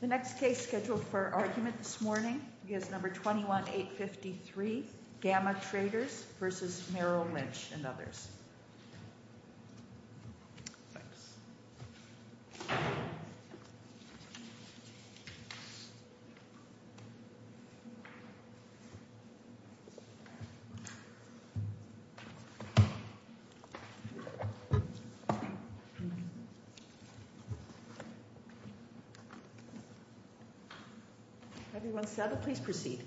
The next case scheduled for argument this morning is number 21-853, Gamma Traders vs. Merrill Lynch and others. Everyone settled? Please proceed.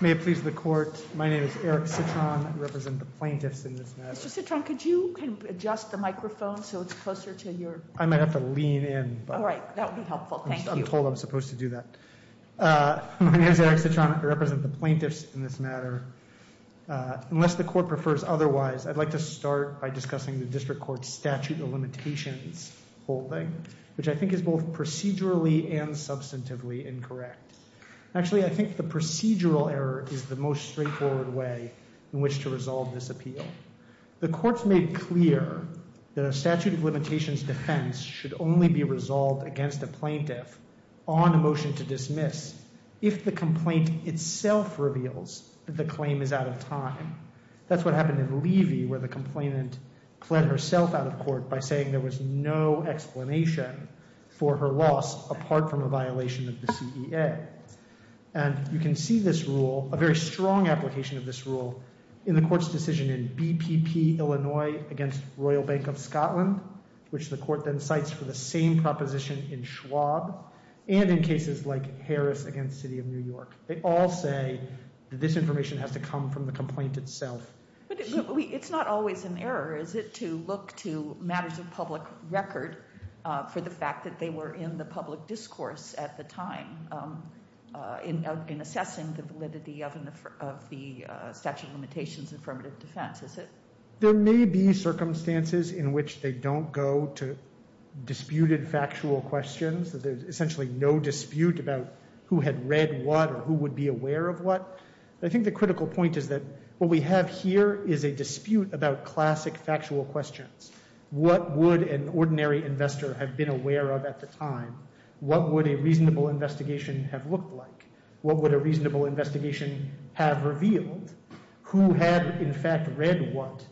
May it please the court. My name is Eric Citron. I represent the plaintiffs in this matter. Mr. Citron, could you adjust the microphone so it's closer to your... I might have to lean in. All right. That would be helpful. Thank you. I'm told I'm supposed to do that. My name is Eric Citron. I represent the plaintiffs in this matter. Unless the court prefers otherwise, I'd like to start by discussing the district court statute of limitations holding, which I think is both procedurally and substantively incorrect. Actually, I think the procedural error is the most straightforward way in which to resolve this appeal. The court's made clear that a statute of limitations defense should only be resolved against a plaintiff on a motion to dismiss if the complaint itself reveals that the claim is out of time. That's what happened in Levy where the complainant fled herself out of court by saying there was no explanation for her loss apart from a violation of the CEA. And you can see this rule, a very strong application of this rule, in the court's decision in BPP Illinois against Royal Bank of Scotland, which the court then cites for the same proposition in Schwab, and in cases like Harris against City of New York. They all say that this information has to come from the complaint itself. But it's not always an error, is it, to look to matters of public record for the fact that they were in the public discourse at the time in assessing the validity of the statute of limitations affirmative defense, is it? There may be circumstances in which they don't go to disputed factual questions, that there's essentially no dispute about who had read what or who would be aware of what. I think the critical point is that what we have here is a dispute about classic factual questions. What would an ordinary investor have been aware of at the time? What would a reasonable investigation have looked like? What would a reasonable investigation have revealed? Who had, in fact, read what?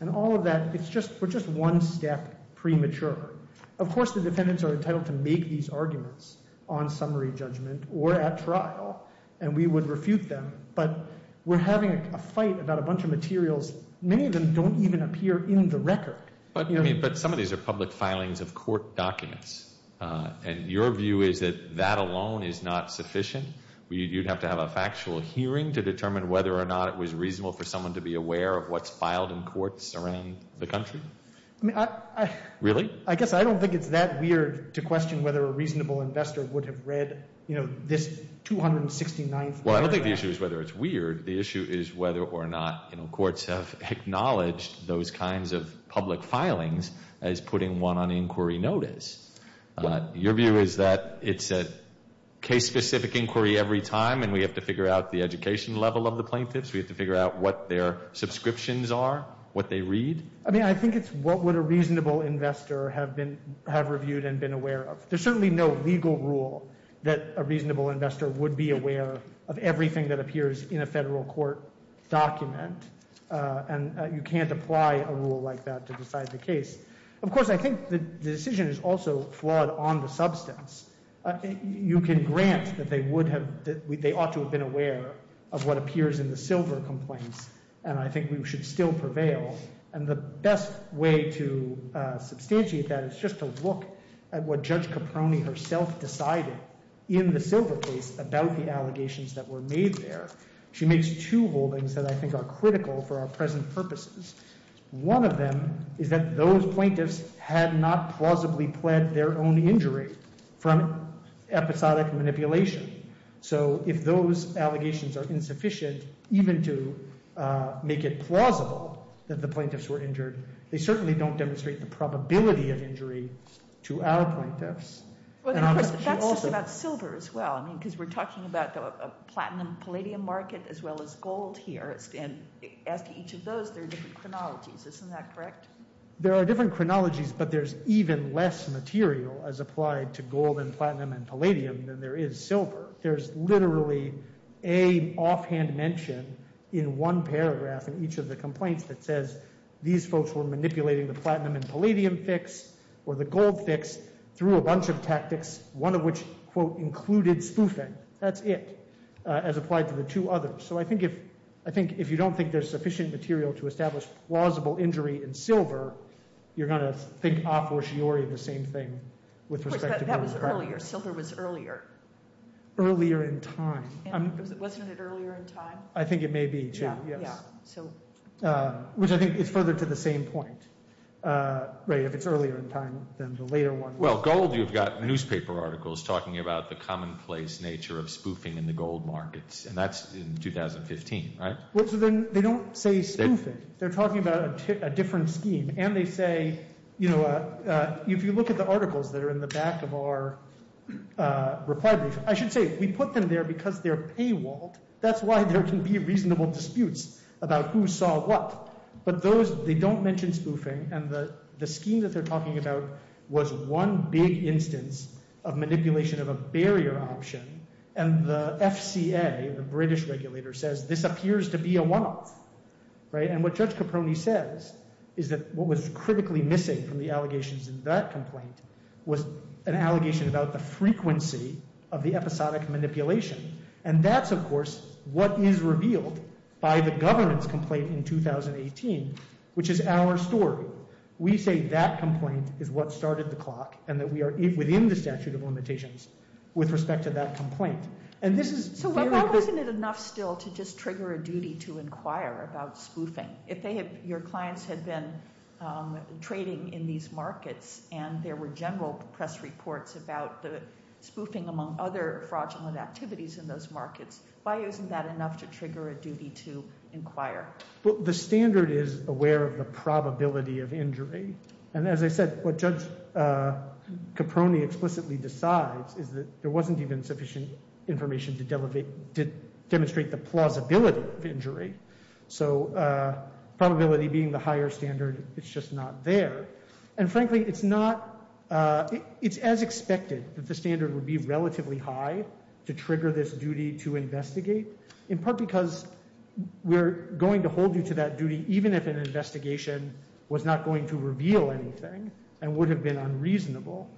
And all of that, it's just one step premature. Of course, the defendants are entitled to make these arguments on summary judgment or at trial, and we would refute them. But we're having a fight about a bunch of materials. Many of them don't even appear in the record. But some of these are public filings of court documents, and your view is that that alone is not sufficient? You'd have to have a factual hearing to determine whether or not it was reasonable for someone to be aware of what's filed in courts around the country? Really? I guess I don't think it's that weird to question whether a reasonable investor would have read this 269th paragraph. Well, I don't think the issue is whether it's weird. The issue is whether or not courts have acknowledged those kinds of public filings as putting one on inquiry notice. Your view is that it's a case-specific inquiry every time, and we have to figure out the education level of the plaintiffs? We have to figure out what their subscriptions are, what they read? I mean, I think it's what would a reasonable investor have reviewed and been aware of. There's certainly no legal rule that a reasonable investor would be aware of everything that appears in a federal court document, and you can't apply a rule like that to decide the case. Of course, I think the decision is also flawed on the substance. You can grant that they ought to have been aware of what appears in the silver complaints, and I think we should still prevail. And the best way to substantiate that is just to look at what Judge Caproni herself decided in the silver case about the allegations that were made there. She makes two holdings that I think are critical for our present purposes. One of them is that those plaintiffs had not plausibly pled their own injury from episodic manipulation. So if those allegations are insufficient even to make it plausible that the plaintiffs were injured, they certainly don't demonstrate the probability of injury to our plaintiffs. And of course, that's just about silver as well, I mean, because we're talking about a platinum-palladium market as well as gold here, and as to each of those, there are different chronologies. Isn't that correct? There are different chronologies, but there's even less material as applied to gold and platinum and palladium than there is silver. There's literally an offhand mention in one paragraph in each of the complaints that says, these folks were manipulating the platinum and palladium fix or the gold fix through a bunch of tactics, one of which, quote, included spoofing. That's it, as applied to the two others. So I think if you don't think there's sufficient material to establish plausible injury in silver, you're going to think a fortiori the same thing with respect to gold. Of course, that was earlier. Silver was earlier. Earlier in time. Wasn't it earlier in time? I think it may be, too. Yeah, yeah. Which I think is further to the same point, right, if it's earlier in time than the later one. Well, gold, you've got newspaper articles talking about the commonplace nature of spoofing in the gold markets, and that's in 2015, right? Well, so then they don't say spoofing. They're talking about a different scheme. And they say, you know, if you look at the articles that are in the back of our reply brief, I should say we put them there because they're paywalled. That's why there can be reasonable disputes about who saw what. But those, they don't mention spoofing. And the scheme that they're talking about was one big instance of manipulation of a barrier option. And the FCA, the British regulator, says this appears to be a one-off, right? And what Judge Caproni says is that what was critically missing from the allegations in that complaint was an allegation about the frequency of the episodic manipulation. And that's, of course, what is revealed by the governance complaint in 2018, which is our story. We say that complaint is what started the clock and that we are within the statute of limitations with respect to that complaint. And this is— So why wasn't it enough still to just trigger a duty to inquire about spoofing? If your clients had been trading in these markets and there were general press reports about the spoofing among other fraudulent activities in those markets, why isn't that enough to trigger a duty to inquire? Well, the standard is aware of the probability of injury. And as I said, what Judge Caproni explicitly decides is that there wasn't even sufficient information to demonstrate the plausibility of injury. So probability being the higher standard, it's just not there. And frankly, it's not—it's as expected that the standard would be relatively high to trigger this duty to investigate, in part because we're going to hold you to that duty even if an investigation was not going to reveal anything and would have been unreasonable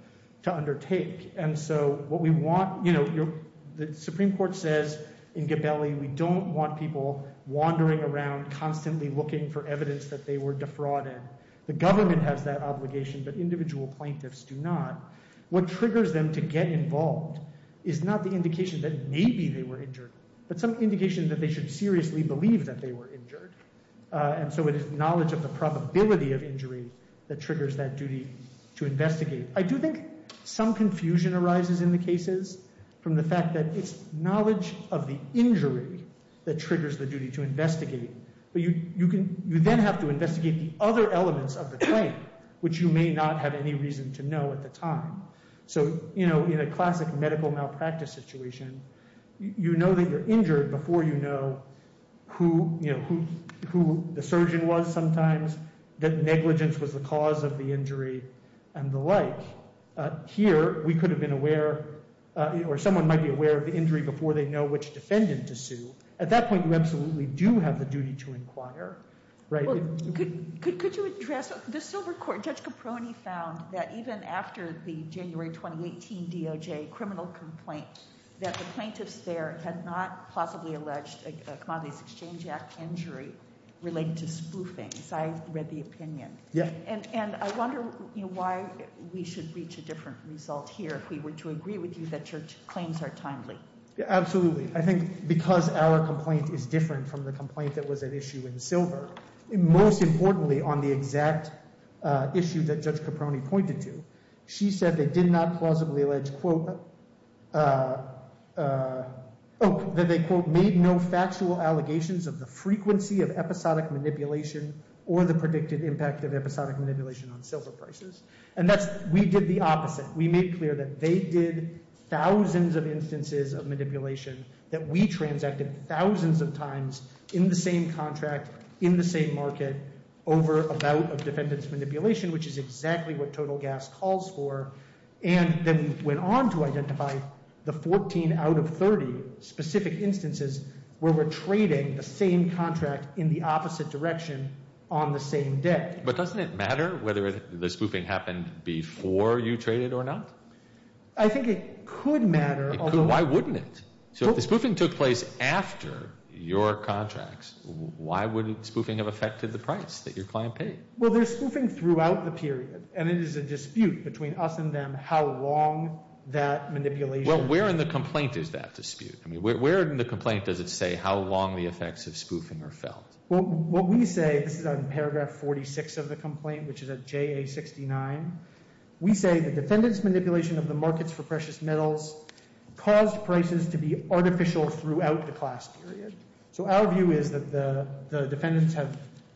to undertake. And so what we want—you know, the Supreme Court says in Gabelli we don't want people wandering around constantly looking for evidence that they were defrauded. The government has that obligation, but individual plaintiffs do not. What triggers them to get involved is not the indication that maybe they were injured, but some indication that they should seriously believe that they were injured. And so it is knowledge of the probability of injury that triggers that duty to investigate. I do think some confusion arises in the cases from the fact that it's knowledge of the injury that triggers the duty to investigate. But you then have to investigate the other elements of the claim, which you may not have any reason to know at the time. So, you know, in a classic medical malpractice situation, you know that you're injured before you know who the surgeon was sometimes, that negligence was the cause of the injury, and the like. Here, we could have been aware—or someone might be aware of the injury before they know which defendant to sue. At that point, you absolutely do have the duty to inquire, right? Could you address—the Silver Court, Judge Caproni found that even after the January 2018 DOJ criminal complaint, that the plaintiffs there had not plausibly alleged a Commodities Exchange Act injury related to spoofing. I read the opinion. And I wonder why we should reach a different result here if we were to agree with you that your claims are timely. Absolutely. I think because our complaint is different from the complaint that was at issue in Silver, most importantly on the exact issue that Judge Caproni pointed to, she said they did not plausibly allege, quote, that they, quote, made no factual allegations of the frequency of episodic manipulation or the predicted impact of episodic manipulation on silver prices. And that's—we did the opposite. We made clear that they did thousands of instances of manipulation, that we transacted thousands of times in the same contract, in the same market, over a bout of defendant's manipulation, which is exactly what total gas calls for, and then went on to identify the 14 out of 30 specific instances where we're trading the same contract in the opposite direction on the same debt. But doesn't it matter whether the spoofing happened before you traded or not? I think it could matter, although— Why wouldn't it? So if the spoofing took place after your contracts, why would spoofing have affected the price that your client paid? Well, there's spoofing throughout the period, and it is a dispute between us and them how long that manipulation— Well, where in the complaint is that dispute? I mean, where in the complaint does it say how long the effects of spoofing are felt? Well, what we say—this is on paragraph 46 of the complaint, which is at JA69. We say the defendant's manipulation of the markets for precious metals caused prices to be artificial throughout the class period. So our view is that the defendants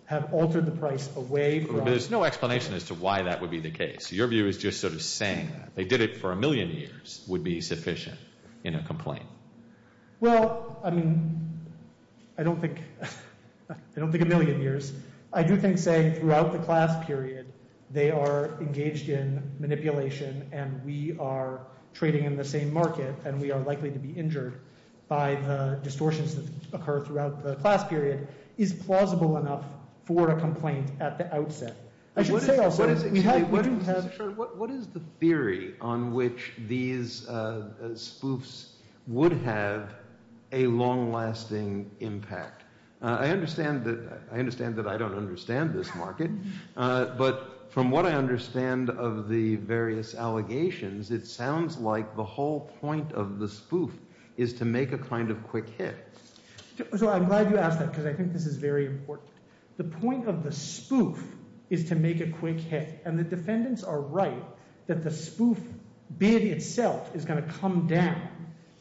have altered the price away from— But there's no explanation as to why that would be the case. Your view is just sort of saying that. Well, I mean, I don't think a million years. I do think saying throughout the class period they are engaged in manipulation and we are trading in the same market and we are likely to be injured by the distortions that occur throughout the class period is plausible enough for a complaint at the outset. I should say also, we do have— What is the theory on which these spoofs would have a long-lasting impact? I understand that I don't understand this market, but from what I understand of the various allegations, it sounds like the whole point of the spoof is to make a kind of quick hit. So I'm glad you asked that because I think this is very important. The point of the spoof is to make a quick hit and the defendants are right that the spoof bid itself is going to come down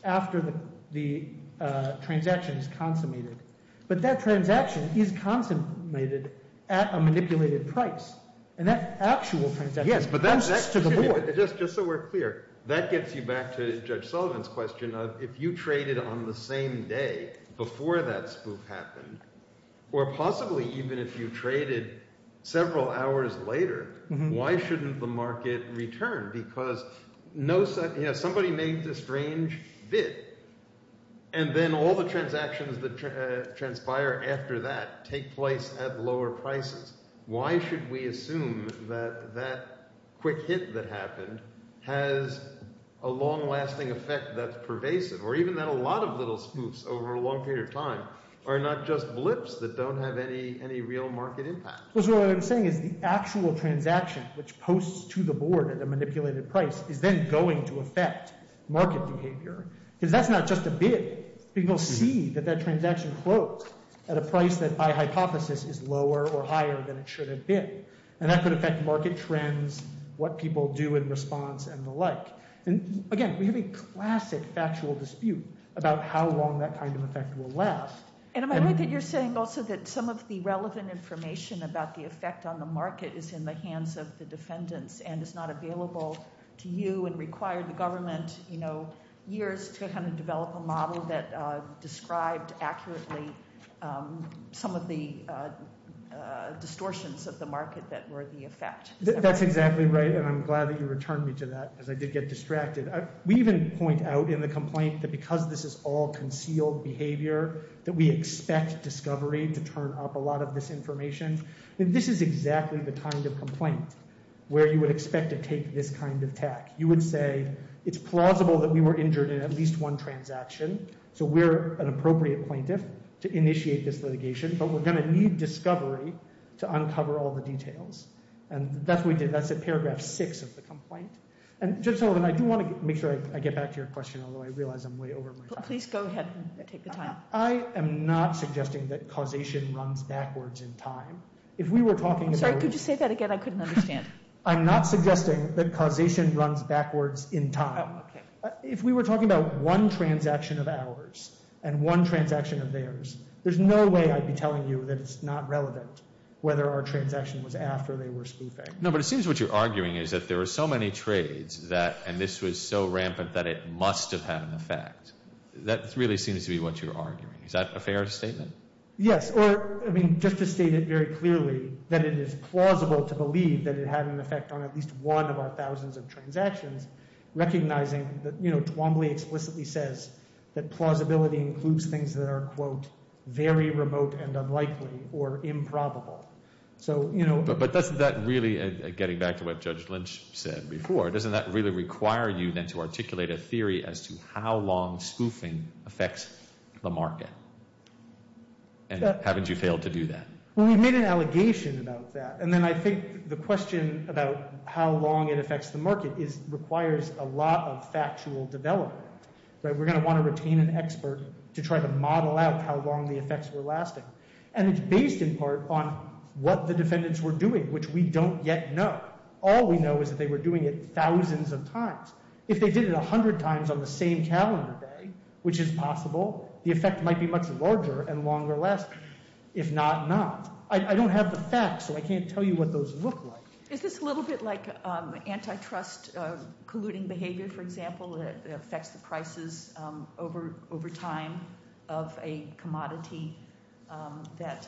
after the transaction is consummated. But that transaction is consummated at a manipulated price and that actual transaction comes to the board. Yes, but just so we're clear, that gets you back to Judge Sullivan's question of if you traded on the same day before that spoof happened or possibly even if you traded several hours later, why shouldn't the market return? Because somebody made this strange bid and then all the transactions that transpire after that take place at lower prices. Why should we assume that that quick hit that happened has a long-lasting effect that's pervasive or even that a lot of little spoofs over a long period of time are not just blips that don't have any real market impact? What I'm saying is the actual transaction which posts to the board at a manipulated price is then going to affect market behavior because that's not just a bid. People see that that transaction closed at a price that by hypothesis is lower or higher than it should have been and that could affect market trends, what people do in response and the like. Again, we have a classic factual dispute about how long that kind of effect will last. Am I right that you're saying also that some of the relevant information about the effect on the market is in the hands of the defendants and is not available to you and required the government years to develop a model that described accurately some of the distortions of the market that were the effect? That's exactly right, and I'm glad that you returned me to that because I did get distracted. We even point out in the complaint that because this is all concealed behavior that we expect discovery to turn up a lot of this information. This is exactly the kind of complaint where you would expect to take this kind of tack. You would say it's plausible that we were injured in at least one transaction, so we're an appropriate plaintiff to initiate this litigation, but we're going to need discovery to uncover all the details. That's what we did. That's at paragraph 6 of the complaint. Judge Sullivan, I do want to make sure I get back to your question, although I realize I'm way over my time. Please go ahead and take the time. I am not suggesting that causation runs backwards in time. I'm sorry, could you say that again? I couldn't understand. I'm not suggesting that causation runs backwards in time. If we were talking about one transaction of ours and one transaction of theirs, there's no way I'd be telling you that it's not relevant whether our transaction was after they were spoofing. No, but it seems what you're arguing is that there are so many trades and this was so rampant that it must have had an effect. That really seems to be what you're arguing. Is that a fair statement? Yes, or just to state it very clearly, that it is plausible to believe that it had an effect on at least one of our thousands of transactions, recognizing that Twombly explicitly says that plausibility includes things that are, quote, very remote and unlikely or improbable. But doesn't that really, getting back to what Judge Lynch said before, doesn't that really require you then to articulate a theory as to how long spoofing affects the market? And haven't you failed to do that? Well, we've made an allegation about that. And then I think the question about how long it affects the market requires a lot of factual development. We're going to want to retain an expert to try to model out how long the effects were lasting. And it's based in part on what the defendants were doing, which we don't yet know. All we know is that they were doing it thousands of times. If they did it 100 times on the same calendar day, which is possible, the effect might be much larger and longer last. If not, not. I don't have the facts, so I can't tell you what those look like. Is this a little bit like antitrust colluding behavior, for example, that affects the prices over time of a commodity that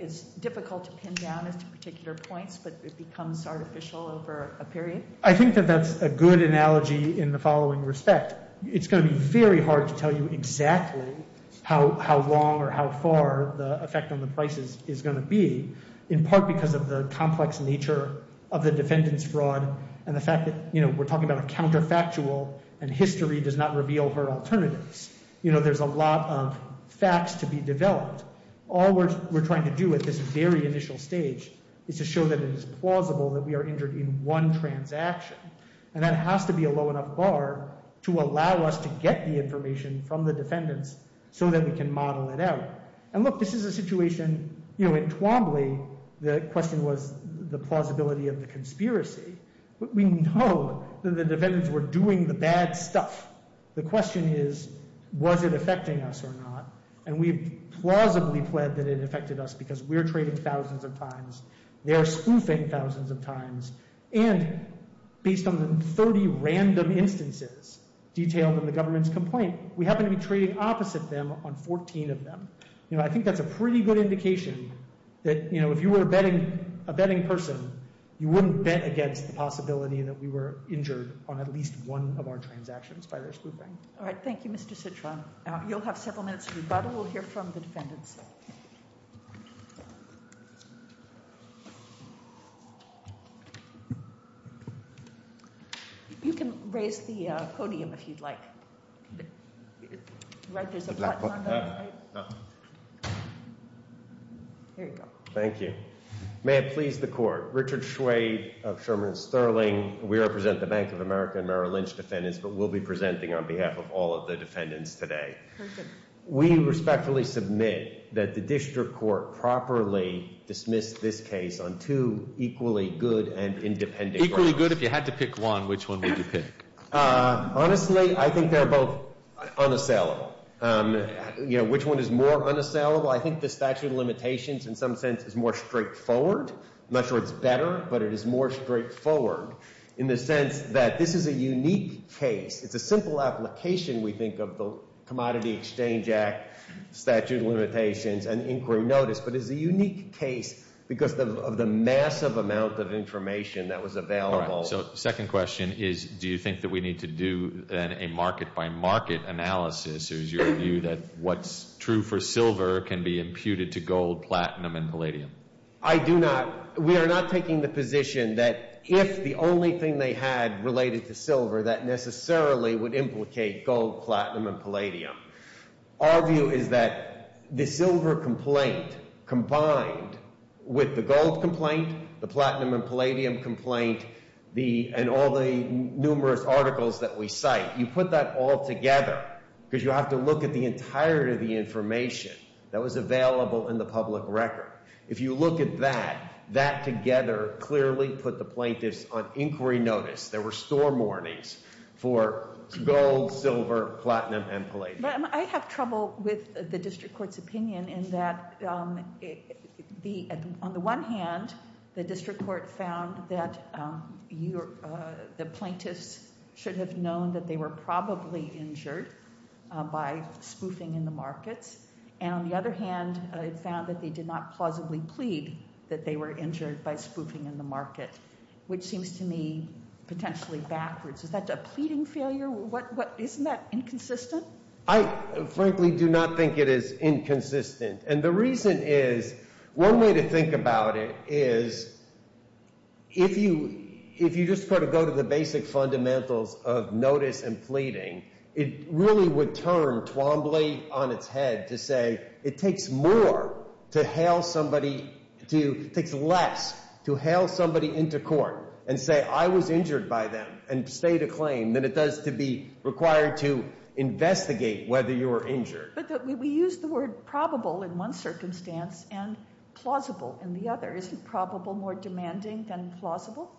is difficult to pin down as to particular points, but it becomes artificial over a period? I think that that's a good analogy in the following respect. It's going to be very hard to tell you exactly how long or how far the effect on the prices is going to be, in part because of the complex nature of the defendant's fraud and the fact that we're talking about a counterfactual and history does not reveal her alternatives. There's a lot of facts to be developed. All we're trying to do at this very initial stage is to show that it is plausible that we are injured in one transaction, and that has to be a low enough bar to allow us to get the information from the defendants so that we can model it out. And look, this is a situation in Twombly. The question was the plausibility of the conspiracy. We know that the defendants were doing the bad stuff. The question is, was it affecting us or not? And we've plausibly pled that it affected us because we're trading thousands of times, they're spoofing thousands of times, and based on the 30 random instances detailed in the government's complaint, we happen to be trading opposite them on 14 of them. I think that's a pretty good indication that if you were a betting person, you wouldn't bet against the possibility that we were injured on at least one of our transactions by their spoofing. All right, thank you, Mr. Citron. You'll have several minutes of rebuttal. We'll hear from the defendants. You can raise the podium if you'd like. Right, there's a button on the right. Here you go. Thank you. May it please the court, Richard Schwade of Sherman Sterling. We represent the Bank of America and Merrill Lynch defendants, but we'll be presenting on behalf of all of the defendants today. We respectfully submit that the district court properly dismissed this case on two equally good and independent grounds. Equally good? If you had to pick one, which one would you pick? Honestly, I think they're both unassailable. Which one is more unassailable? I think the statute of limitations in some sense is more straightforward. I'm not sure it's better, but it is more straightforward in the sense that this is a unique case. It's a simple application, we think, of the Commodity Exchange Act, statute of limitations, and inquiry notice, but it's a unique case because of the massive amount of information that was available. Second question is, do you think that we need to do a market-by-market analysis? Is your view that what's true for silver can be imputed to gold, platinum, and palladium? I do not. We are not taking the position that if the only thing they had related to silver that necessarily would implicate gold, platinum, and palladium. Our view is that the silver complaint combined with the gold complaint, the platinum and palladium complaint, and all the numerous articles that we cite, you put that all together because you have to look at the entirety of the information that was available in the public record. If you look at that, that together clearly put the plaintiffs on inquiry notice. There were store warnings for gold, silver, platinum, and palladium. I have trouble with the district court's opinion in that on the one hand, the district court found that the plaintiffs should have known that they were probably injured by spoofing in the markets, and on the other hand, it found that they did not plausibly plead that they were injured by spoofing in the market, which seems to me potentially backwards. Is that a pleading failure? Isn't that inconsistent? I frankly do not think it is inconsistent. And the reason is one way to think about it is if you just sort of go to the basic fundamentals of notice and pleading, it really would turn Twombly on its head to say it takes more to hail somebody, it takes less to hail somebody into court and say I was injured by them and state a claim than it does to be required to investigate whether you were injured. But we use the word probable in one circumstance and plausible in the other. Isn't probable more demanding than plausible?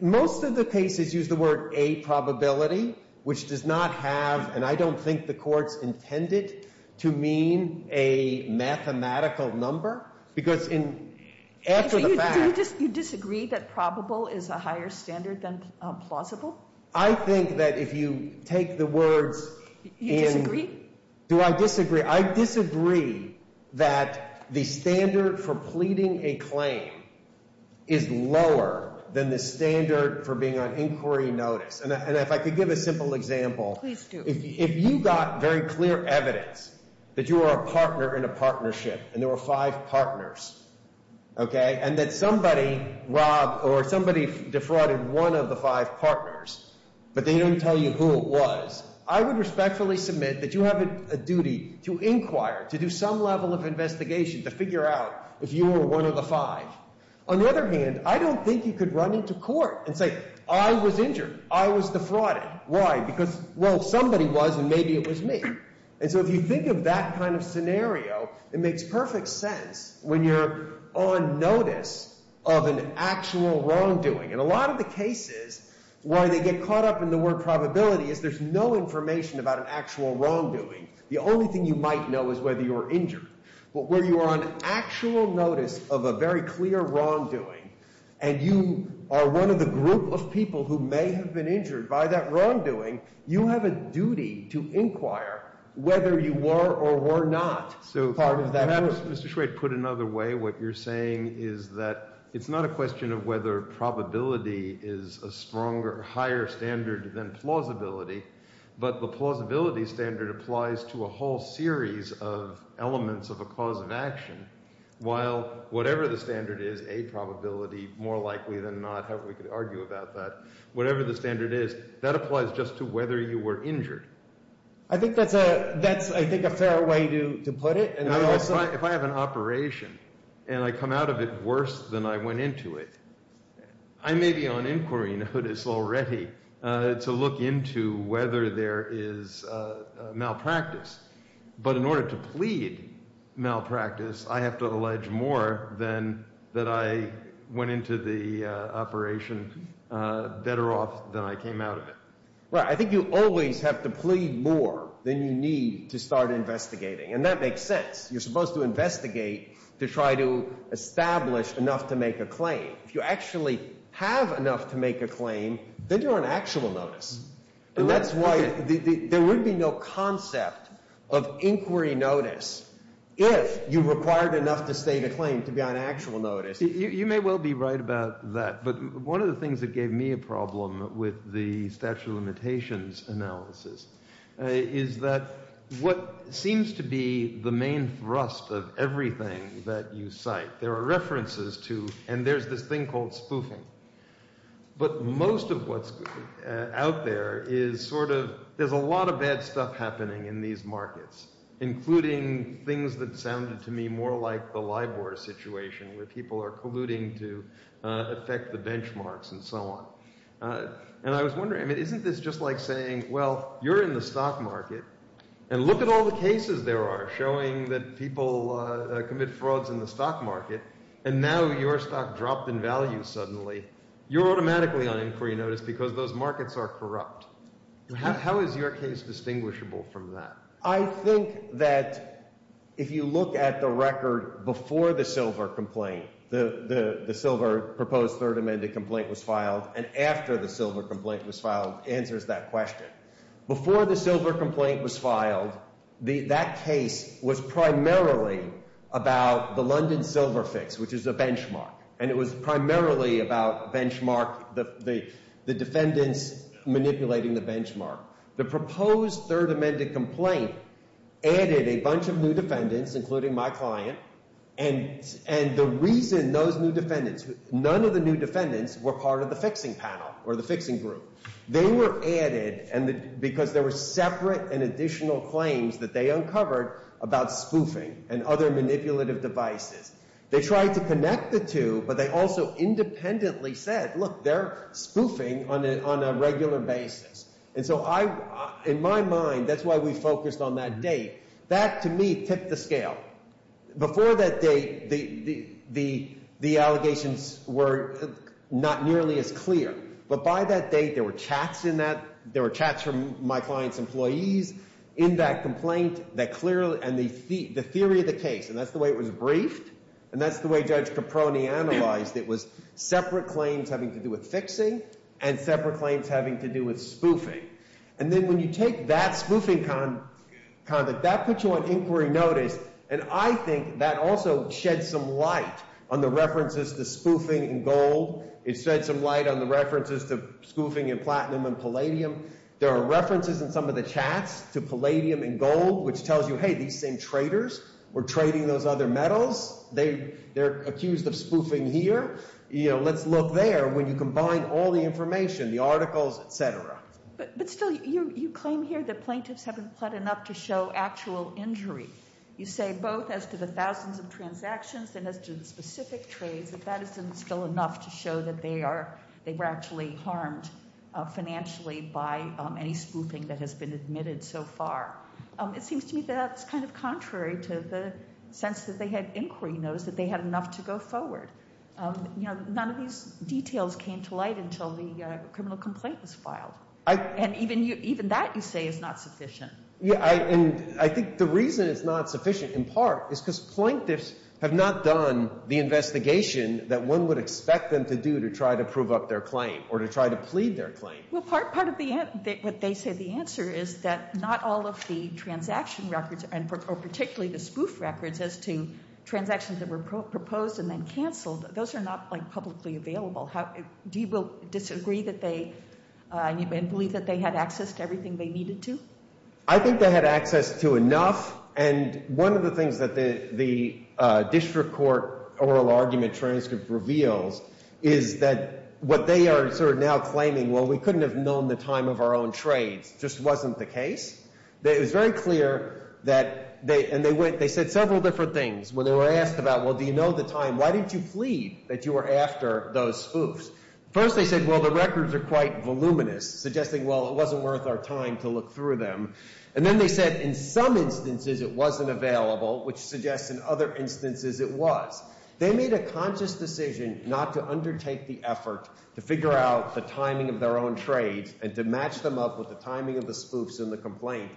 Most of the cases use the word a probability, which does not have, and I don't think the court's intended to mean a mathematical number because after the fact So you disagree that probable is a higher standard than plausible? I think that if you take the words in You disagree? Do I disagree? I disagree that the standard for pleading a claim is lower than the standard for being on inquiry notice. And if I could give a simple example. Please do. If you got very clear evidence that you are a partner in a partnership and there were five partners, and that somebody robbed or somebody defrauded one of the five partners, but they don't tell you who it was, I would respectfully submit that you have a duty to inquire, to do some level of investigation to figure out if you were one of the five. On the other hand, I don't think you could run into court and say I was injured. I was defrauded. Why? Because, well, somebody was and maybe it was me. And so if you think of that kind of scenario, it makes perfect sense when you're on notice of an actual wrongdoing. And a lot of the cases, why they get caught up in the word probability is there's no information about an actual wrongdoing. The only thing you might know is whether you were injured. But where you are on actual notice of a very clear wrongdoing, and you are one of the group of people who may have been injured by that wrongdoing, you have a duty to inquire whether you were or were not part of that group. So can I just, Mr. Schwade, put it another way? What you're saying is that it's not a question of whether probability is a stronger, higher standard than plausibility, but the plausibility standard applies to a whole series of elements of a cause of action, while whatever the standard is, a probability, more likely than not, however we could argue about that, whatever the standard is, that applies just to whether you were injured. I think that's a fair way to put it. If I have an operation and I come out of it worse than I went into it, I may be on inquiry notice already to look into whether there is malpractice. But in order to plead malpractice, I have to allege more than that I went into the operation better off than I came out of it. Right. I think you always have to plead more than you need to start investigating, and that makes sense. You're supposed to investigate to try to establish enough to make a claim. If you actually have enough to make a claim, then you're on actual notice. And that's why there would be no concept of inquiry notice if you required enough to state a claim to be on actual notice. You may well be right about that, but one of the things that gave me a problem with the statute of limitations analysis is that what seems to be the main thrust of everything that you cite, there are references to, and there's this thing called spoofing, but most of what's out there is sort of, there's a lot of bad stuff happening in these markets, including things that sounded to me more like the LIBOR situation where people are colluding to affect the benchmarks and so on. And I was wondering, isn't this just like saying, well, you're in the stock market, and look at all the cases there are showing that people commit frauds in the stock market, and now your stock dropped in value suddenly. You're automatically on inquiry notice because those markets are corrupt. How is your case distinguishable from that? I think that if you look at the record before the silver complaint, the silver proposed third amended complaint was filed, and after the silver complaint was filed answers that question. Before the silver complaint was filed, that case was primarily about the London silver fix, which is a benchmark, and it was primarily about benchmark, the defendants manipulating the benchmark. The proposed third amended complaint added a bunch of new defendants, including my client, and the reason those new defendants, none of the new defendants were part of the fixing panel or the fixing group. They were added because there were separate and additional claims that they uncovered about spoofing and other manipulative devices. They tried to connect the two, but they also independently said, look, they're spoofing on a regular basis, and so I, in my mind, that's why we focused on that date. That, to me, tipped the scale. Before that date, the allegations were not nearly as clear, but by that date there were chats in that, there were chats from my client's employees in that complaint that clearly, and the theory of the case, and that's the way it was briefed, and that's the way Judge Caproni analyzed it, was separate claims having to do with fixing and separate claims having to do with spoofing, and then when you take that spoofing conduct, that puts you on inquiry notice, and I think that also sheds some light on the references to spoofing and gold. It sheds some light on the references to spoofing and platinum and palladium. There are references in some of the chats to palladium and gold, which tells you, hey, these same traders were trading those other metals. They're accused of spoofing here. Let's look there when you combine all the information, the articles, et cetera. But still, you claim here that plaintiffs haven't pled enough to show actual injury. You say both as to the thousands of transactions and as to the specific trades, that that isn't still enough to show that they were actually harmed financially by any spoofing that has been admitted so far. It seems to me that that's kind of contrary to the sense that they had inquiry notice, that they had enough to go forward. None of these details came to light until the criminal complaint was filed. And even that, you say, is not sufficient. Yeah, and I think the reason it's not sufficient in part is because plaintiffs have not done the investigation that one would expect them to do to try to prove up their claim or to try to plead their claim. Well, part of what they say the answer is that not all of the transaction records or particularly the spoof records as to transactions that were proposed and then canceled, those are not publicly available. Do you disagree that they believe that they had access to everything they needed to? I think they had access to enough. And one of the things that the district court oral argument transcript reveals is that what they are sort of now claiming, well, we couldn't have known the time of our own trades, just wasn't the case. It was very clear that they said several different things when they were asked about, well, do you know the time? Why didn't you plead that you were after those spoofs? First they said, well, the records are quite voluminous, suggesting, well, it wasn't worth our time to look through them. And then they said in some instances it wasn't available, which suggests in other instances it was. They made a conscious decision not to undertake the effort to figure out the timing of their own trades and to match them up with the timing of the spoofs in the complaint.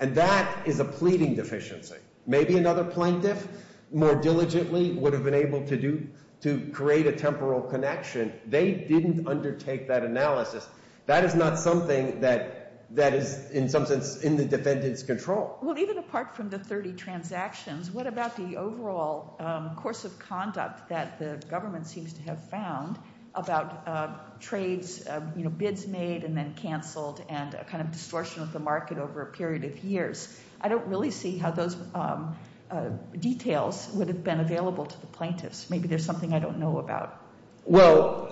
And that is a pleading deficiency. Maybe another plaintiff more diligently would have been able to create a temporal connection. They didn't undertake that analysis. That is not something that is in some sense in the defendant's control. Well, even apart from the 30 transactions, what about the overall course of conduct that the government seems to have found about trades, bids made and then canceled and a kind of distortion of the market over a period of years? I don't really see how those details would have been available to the plaintiffs. Maybe there's something I don't know about. Well,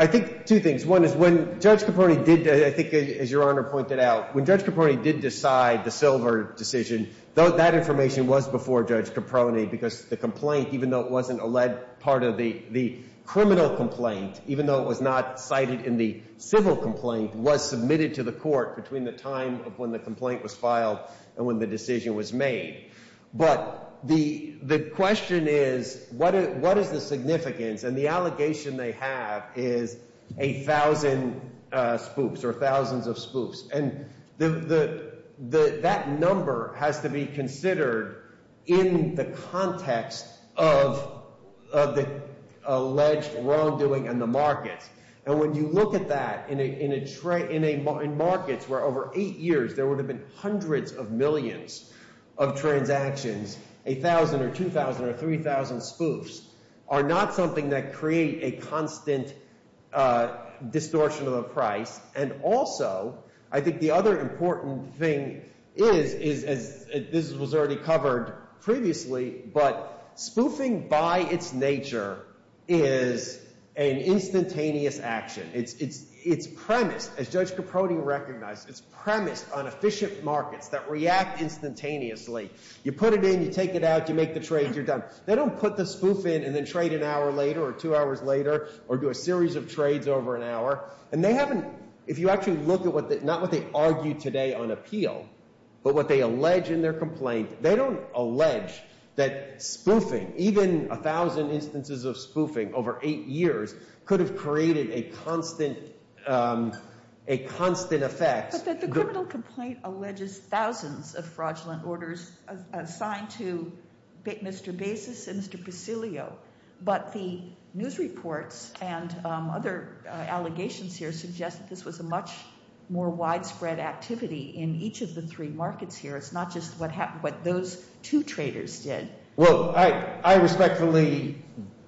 I think two things. One is when Judge Caporni did, I think as Your Honor pointed out, when Judge Caporni did decide the silver decision, that information was before Judge Caporni because the complaint, even though it wasn't a lead part of the criminal complaint, even though it was not cited in the civil complaint, was submitted to the court between the time of when the complaint was filed and when the decision was made. But the question is what is the significance? And the allegation they have is a thousand spoofs or thousands of spoofs. And that number has to be considered in the context of the alleged wrongdoing in the markets. And when you look at that in markets where over eight years there would have been hundreds of millions of transactions, a thousand or 2,000 or 3,000 spoofs are not something that create a constant distortion of the price. And also I think the other important thing is, as this was already covered previously, but spoofing by its nature is an instantaneous action. It's premised, as Judge Caporni recognized, it's premised on efficient markets that react instantaneously. You put it in, you take it out, you make the trade, you're done. They don't put the spoof in and then trade an hour later or two hours later or do a series of trades over an hour. And they haven't, if you actually look at what, not what they argue today on appeal, but what they allege in their complaint, they don't allege that spoofing, even a thousand instances of spoofing over eight years, could have created a constant effect. But the criminal complaint alleges thousands of fraudulent orders assigned to Mr. Basis and Mr. Presilio. But the news reports and other allegations here suggest that this was a much more widespread activity in each of the three markets here. It's not just what those two traders did. Well, I respectfully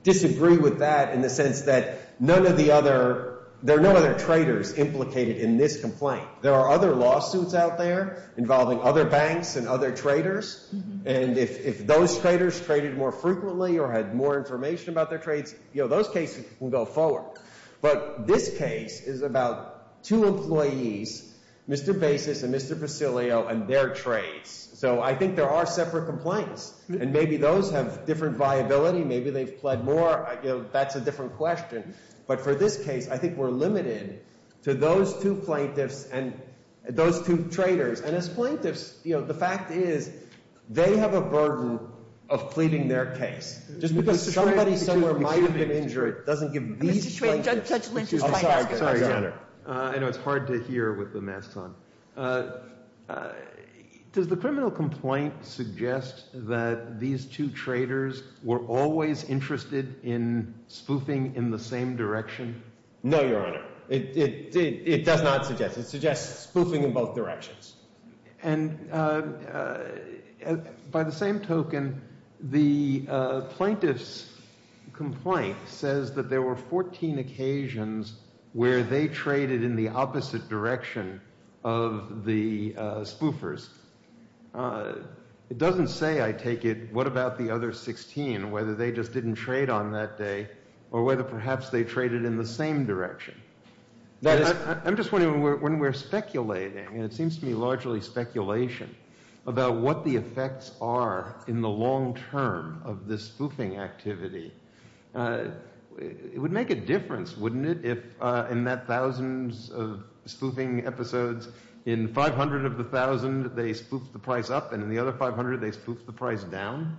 disagree with that in the sense that none of the other, there are no other traders implicated in this complaint. There are other lawsuits out there involving other banks and other traders. And if those traders traded more frequently or had more information about their trades, those cases will go forward. But this case is about two employees, Mr. Basis and Mr. Presilio and their trades. So I think there are separate complaints. And maybe those have different viability. Maybe they've pled more. That's a different question. But for this case, I think we're limited to those two plaintiffs and those two traders. And as plaintiffs, you know, the fact is they have a burden of pleading their case. Just because somebody somewhere might have been injured doesn't give these plaintiffs – Judge Lynch is trying to ask a question. I know it's hard to hear with the masks on. Does the criminal complaint suggest that these two traders were always interested in spoofing in the same direction? No, Your Honor. It does not suggest. It suggests spoofing in both directions. And by the same token, the plaintiff's complaint says that there were 14 occasions where they traded in the opposite direction of the spoofers. It doesn't say, I take it, what about the other 16, whether they just didn't trade on that day or whether perhaps they traded in the same direction. I'm just wondering when we're speculating, and it seems to me largely speculation, about what the effects are in the long term of this spoofing activity. It would make a difference, wouldn't it, if in that thousands of spoofing episodes, in 500 of the thousand they spoofed the price up and in the other 500 they spoofed the price down?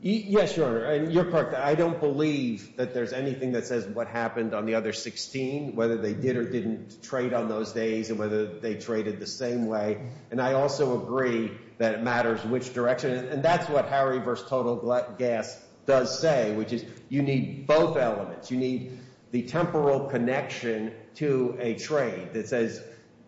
Yes, Your Honor. I don't believe that there's anything that says what happened on the other 16, whether they did or didn't trade on those days and whether they traded the same way. And I also agree that it matters which direction. And that's what Harry v. Total Gas does say, which is you need both elements. You need the temporal connection to a trade that says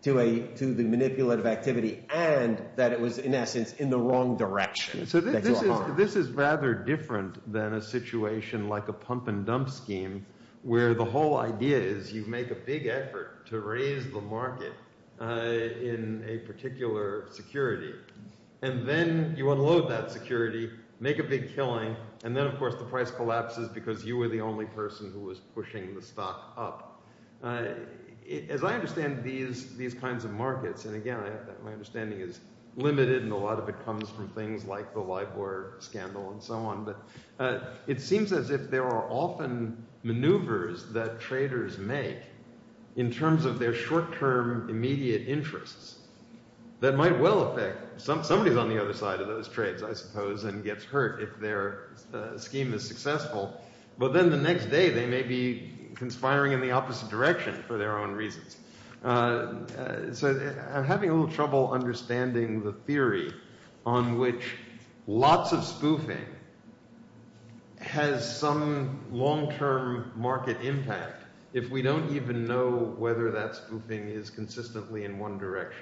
to the manipulative activity and that it was, in essence, in the wrong direction. So this is rather different than a situation like a pump and dump scheme where the whole idea is you make a big effort to raise the market in a particular security. And then you unload that security, make a big killing, and then, of course, the price collapses because you were the only person who was pushing the stock up. As I understand these kinds of markets – and again, my understanding is limited and a lot of it comes from things like the LIBOR scandal and so on. But it seems as if there are often maneuvers that traders make in terms of their short-term immediate interests that might well affect – somebody is on the other side of those trades, I suppose, and gets hurt if their scheme is successful. But then the next day they may be conspiring in the opposite direction for their own reasons. So I'm having a little trouble understanding the theory on which lots of spoofing has some long-term market impact if we don't even know whether that spoofing is consistently in one direction.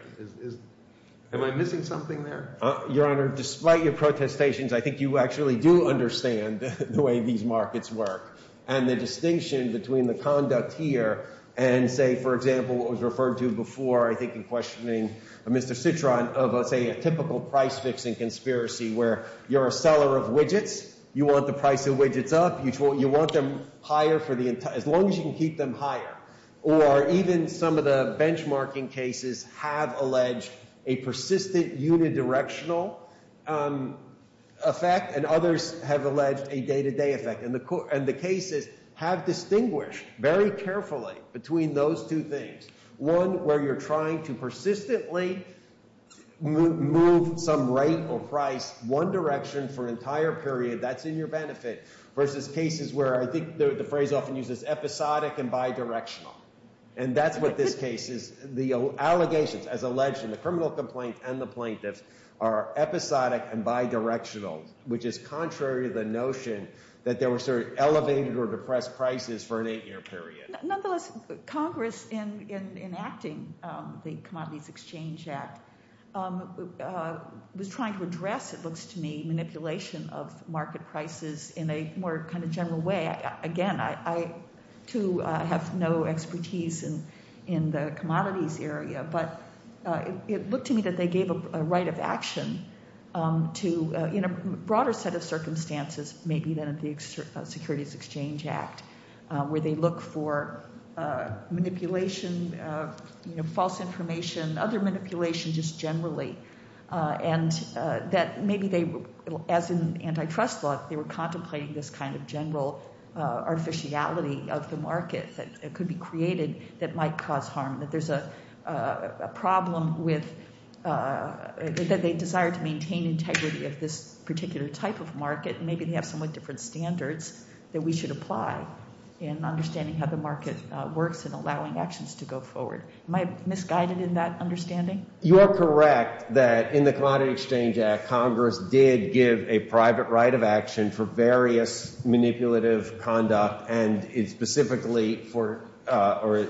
Am I missing something there? Your Honor, despite your protestations, I think you actually do understand the way these markets work and the distinction between the conduct here and, say, for example, what was referred to before I think in questioning Mr. Citron of, say, a typical price-fixing conspiracy where you're a seller of widgets. You want the price of widgets up. You want them higher for the entire – as long as you can keep them higher. Or even some of the benchmarking cases have alleged a persistent unidirectional effect and others have alleged a day-to-day effect. And the cases have distinguished very carefully between those two things, one where you're trying to persistently move some rate or price one direction for an entire period – that's in your benefit – versus cases where I think the phrase often uses episodic and bidirectional. And that's what this case is. The allegations, as alleged in the criminal complaint and the plaintiffs, are episodic and bidirectional, which is contrary to the notion that there were sort of elevated or depressed prices for an eight-year period. Nonetheless, Congress in enacting the Commodities Exchange Act was trying to address, it looks to me, manipulation of market prices in a more kind of general way. Again, I, too, have no expertise in the commodities area, but it looked to me that they gave a right of action to – in a broader set of circumstances maybe than at the Securities Exchange Act where they look for manipulation, false information, other manipulation just generally. And that maybe they – as in antitrust law, they were contemplating this kind of general artificiality of the market that could be created that might cause harm, that there's a problem with – that they desire to maintain integrity of this particular type of market. And maybe they have somewhat different standards that we should apply in understanding how the market works and allowing actions to go forward. Am I misguided in that understanding? You are correct that in the Commodities Exchange Act, Congress did give a private right of action for various manipulative conduct and specifically for – or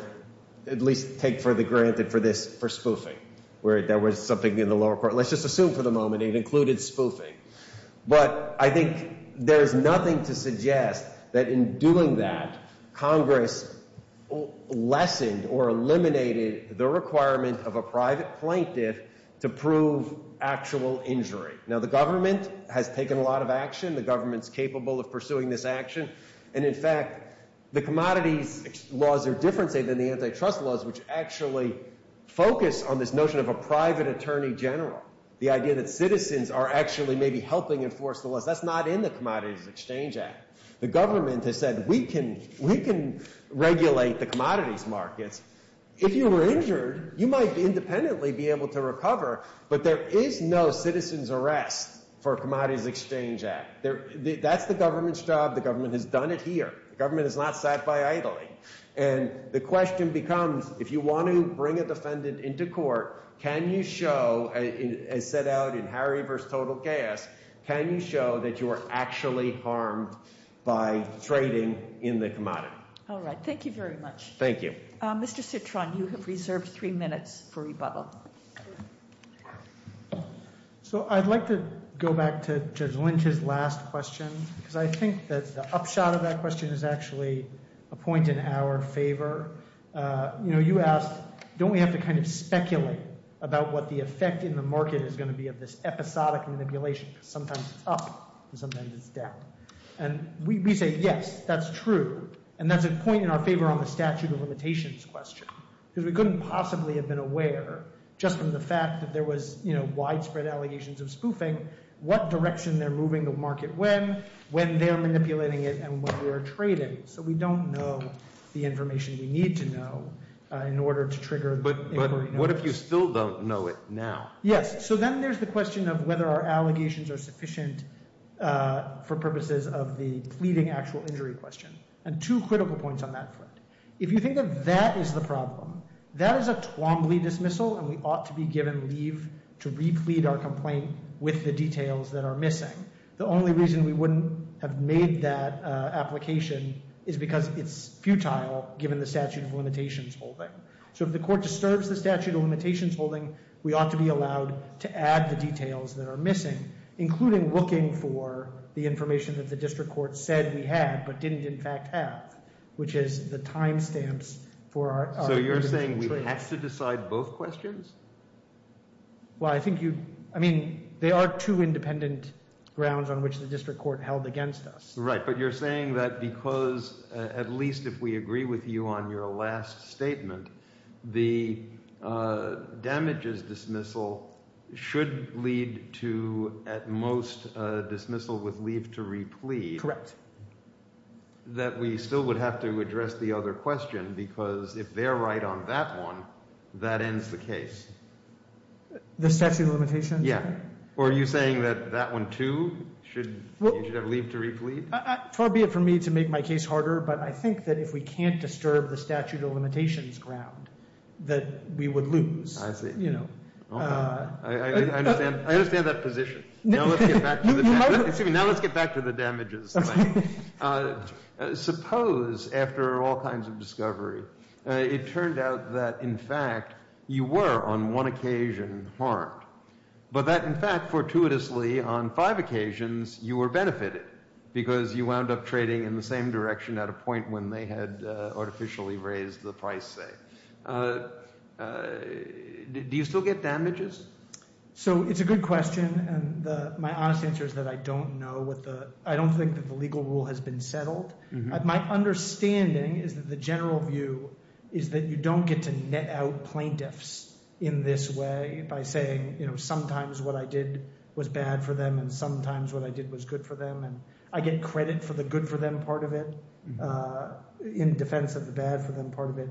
at least take for granted for this for spoofing where there was something in the lower court. Let's just assume for the moment it included spoofing. But I think there is nothing to suggest that in doing that, Congress lessened or eliminated the requirement of a private plaintiff to prove actual injury. Now, the government has taken a lot of action. The government is capable of pursuing this action. And in fact, the commodities laws are different, say, than the antitrust laws, which actually focus on this notion of a private attorney general, the idea that citizens are actually maybe helping enforce the laws. That's not in the Commodities Exchange Act. The government has said, we can regulate the commodities markets. If you were injured, you might independently be able to recover. But there is no citizen's arrest for Commodities Exchange Act. That's the government's job. The government has done it here. The government has not sat by idly. And the question becomes, if you want to bring a defendant into court, can you show, as set out in Harry v. Total Chaos, can you show that you are actually harmed by trading in the commodity? All right. Thank you very much. Thank you. Mr. Citron, you have reserved three minutes for rebuttal. So I'd like to go back to Judge Lynch's last question because I think that the upshot of that question is actually a point in our favor. You know, you asked, don't we have to kind of speculate about what the effect in the market is going to be of this episodic manipulation because sometimes it's up and sometimes it's down. And we say, yes, that's true. And that's a point in our favor on the statute of limitations question because we couldn't possibly have been aware just from the fact that there was, you know, widespread allegations of spoofing, what direction they're moving the market when, when they're manipulating it, and what they're trading. So we don't know the information we need to know in order to trigger inquiry. But what if you still don't know it now? Yes. So then there's the question of whether our allegations are sufficient for purposes of the pleading actual injury question. And two critical points on that front. If you think of that as the problem, that is a Twombly dismissal and we ought to be given leave to replete our complaint with the details that are missing. The only reason we wouldn't have made that application is because it's futile given the statute of limitations holding. So if the court disturbs the statute of limitations holding, we ought to be allowed to add the details that are missing, including looking for the information that the district court said we had, but didn't in fact have, which is the timestamps for our individual trades. So you're saying we have to decide both questions? Well, I think you, I mean, there are two independent grounds on which the district court held against us. Right. But you're saying that because at least if we agree with you on your last statement, the damages dismissal should lead to at most dismissal with leave to replete. Correct. That we still would have to address the other question because if they're right on that one, that ends the case. The statute of limitations? Yeah. Or are you saying that that one, too, you should have leave to replete? Far be it from me to make my case harder, but I think that if we can't disturb the statute of limitations ground, that we would lose. I see. I understand that position. Now let's get back to the damages thing. Suppose after all kinds of discovery, it turned out that in fact you were on one occasion harmed, but that in fact fortuitously on five occasions you were benefited because you wound up trading in the same direction at a point when they had artificially raised the price, say. Do you still get damages? So it's a good question, and my honest answer is that I don't know. I don't think that the legal rule has been settled. My understanding is that the general view is that you don't get to net out plaintiffs in this way by saying sometimes what I did was bad for them and sometimes what I did was good for them. And I get credit for the good for them part of it in defense of the bad for them part of it.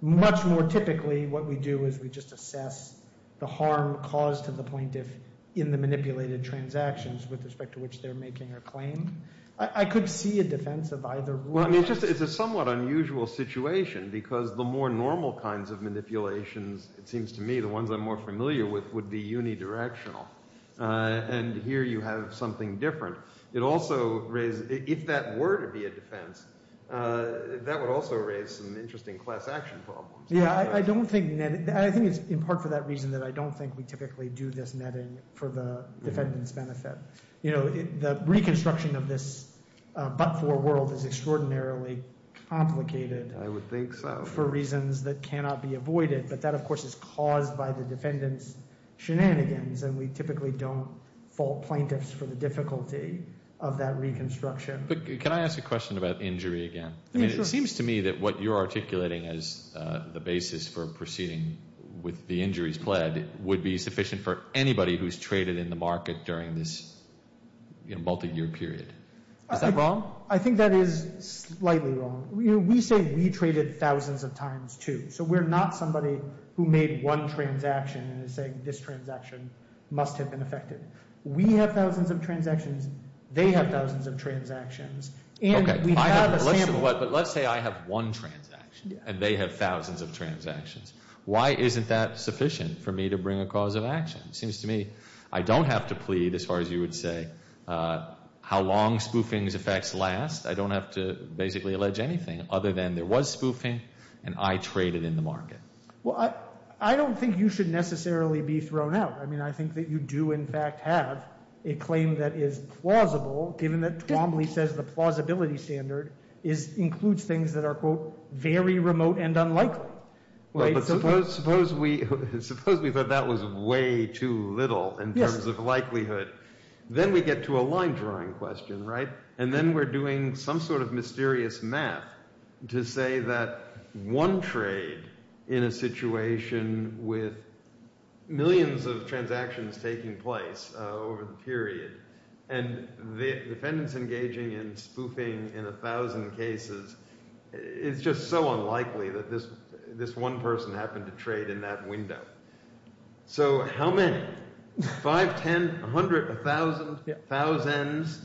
Much more typically what we do is we just assess the harm caused to the plaintiff in the manipulated transactions with respect to which they're making a claim. I could see a defense of either one. Well, I mean it's just – it's a somewhat unusual situation because the more normal kinds of manipulations, it seems to me, the ones I'm more familiar with would be unidirectional. And here you have something different. It also raises – if that were to be a defense, that would also raise some interesting class action problems. Yeah, I don't think – I think it's in part for that reason that I don't think we typically do this netting for the defendant's benefit. The reconstruction of this but-for world is extraordinarily complicated. I would think so. But that, of course, is caused by the defendant's shenanigans, and we typically don't fault plaintiffs for the difficulty of that reconstruction. But can I ask a question about injury again? Yeah, sure. I mean it seems to me that what you're articulating as the basis for proceeding with the injuries pled would be sufficient for anybody who's traded in the market during this multi-year period. Is that wrong? I think that is slightly wrong. We say we traded thousands of times, too. So we're not somebody who made one transaction and is saying this transaction must have been affected. We have thousands of transactions. They have thousands of transactions. Okay. But let's say I have one transaction, and they have thousands of transactions. It seems to me I don't have to plead as far as you would say how long spoofing's effects last. I don't have to basically allege anything other than there was spoofing, and I traded in the market. Well, I don't think you should necessarily be thrown out. I mean I think that you do in fact have a claim that is plausible given that Twombly says the plausibility standard includes things that are, quote, very remote and unlikely. Suppose we thought that was way too little in terms of likelihood. Then we get to a line drawing question, right? And then we're doing some sort of mysterious math to say that one trade in a situation with millions of transactions taking place over the period, and defendants engaging in spoofing in a thousand cases, it's just so unlikely that this one person happened to trade in that window. So how many? Five, ten, a hundred, a thousand, thousands?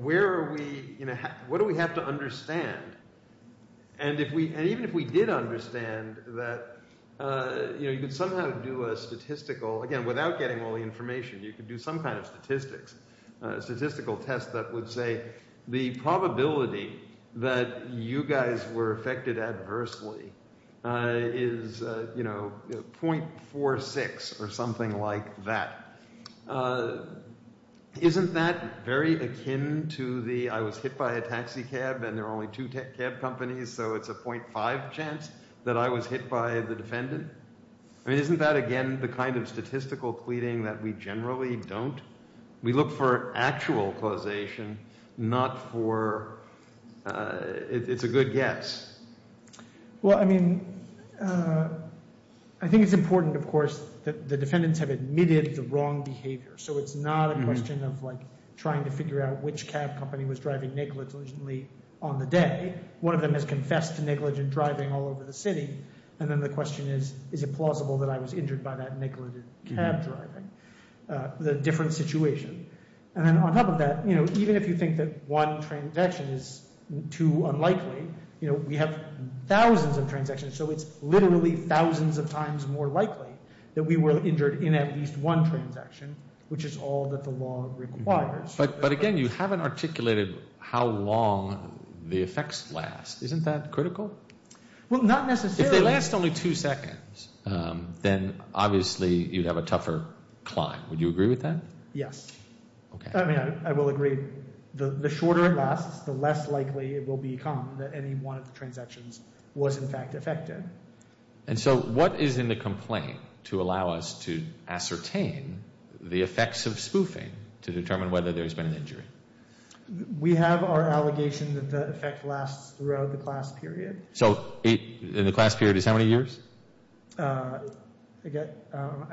Where are we – what do we have to understand? And even if we did understand that – you could somehow do a statistical – again, without getting all the information, you could do some kind of statistics, a statistical test that would say the probability that you guys were affected adversely is 0.46 or something like that. Isn't that very akin to the I was hit by a taxi cab and there are only two cab companies, so it's a 0.5 chance that I was hit by the defendant? I mean isn't that again the kind of statistical pleading that we generally don't? We look for actual causation, not for – it's a good guess. Well, I mean, I think it's important, of course, that the defendants have admitted the wrong behavior. So it's not a question of like trying to figure out which cab company was driving negligently on the day. One of them has confessed to negligent driving all over the city. And then the question is, is it plausible that I was injured by that negligent cab driving? The different situation. And then on top of that, even if you think that one transaction is too unlikely, we have thousands of transactions, so it's literally thousands of times more likely that we were injured in at least one transaction, which is all that the law requires. But again, you haven't articulated how long the effects last. Isn't that critical? Well, not necessarily. If they last only two seconds, then obviously you'd have a tougher climb. Would you agree with that? Yes. I mean, I will agree. The shorter it lasts, the less likely it will become that any one of the transactions was in fact affected. And so what is in the complaint to allow us to ascertain the effects of spoofing to determine whether there's been an injury? We have our allegation that the effect lasts throughout the class period. So in the class period is how many years? I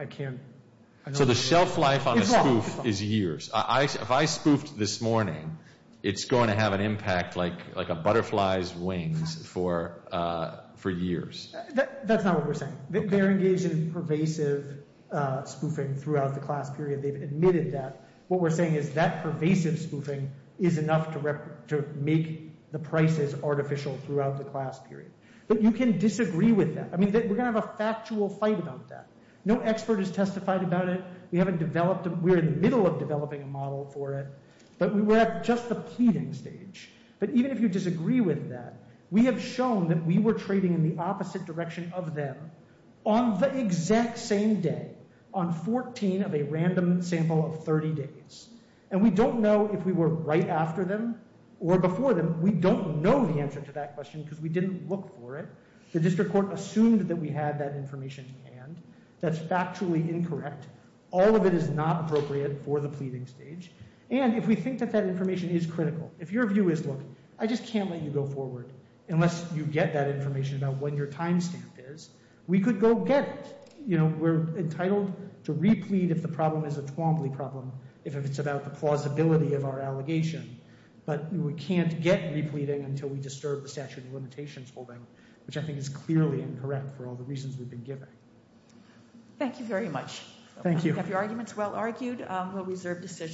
can't – So the shelf life on the spoof is years. If I spoofed this morning, it's going to have an impact like a butterfly's wings for years. That's not what we're saying. They're engaged in pervasive spoofing throughout the class period. They've admitted that. What we're saying is that pervasive spoofing is enough to make the prices artificial throughout the class period. But you can disagree with that. I mean, we're going to have a factual fight about that. No expert has testified about it. We haven't developed – we're in the middle of developing a model for it. But we were at just the pleading stage. But even if you disagree with that, we have shown that we were trading in the opposite direction of them on the exact same day, on 14 of a random sample of 30 days. And we don't know if we were right after them or before them. We don't know the answer to that question because we didn't look for it. The district court assumed that we had that information in hand. That's factually incorrect. All of it is not appropriate for the pleading stage. And if we think that that information is critical, if your view is, look, I just can't let you go forward unless you get that information about when your time stamp is, we could go get it. You know, we're entitled to replead if the problem is a Twombly problem, if it's about the plausibility of our allegation. But we can't get repleading until we disturb the statute of limitations holding, which I think is clearly incorrect for all the reasons we've been given. Thank you very much. Thank you. If your argument is well argued, we'll reserve decision.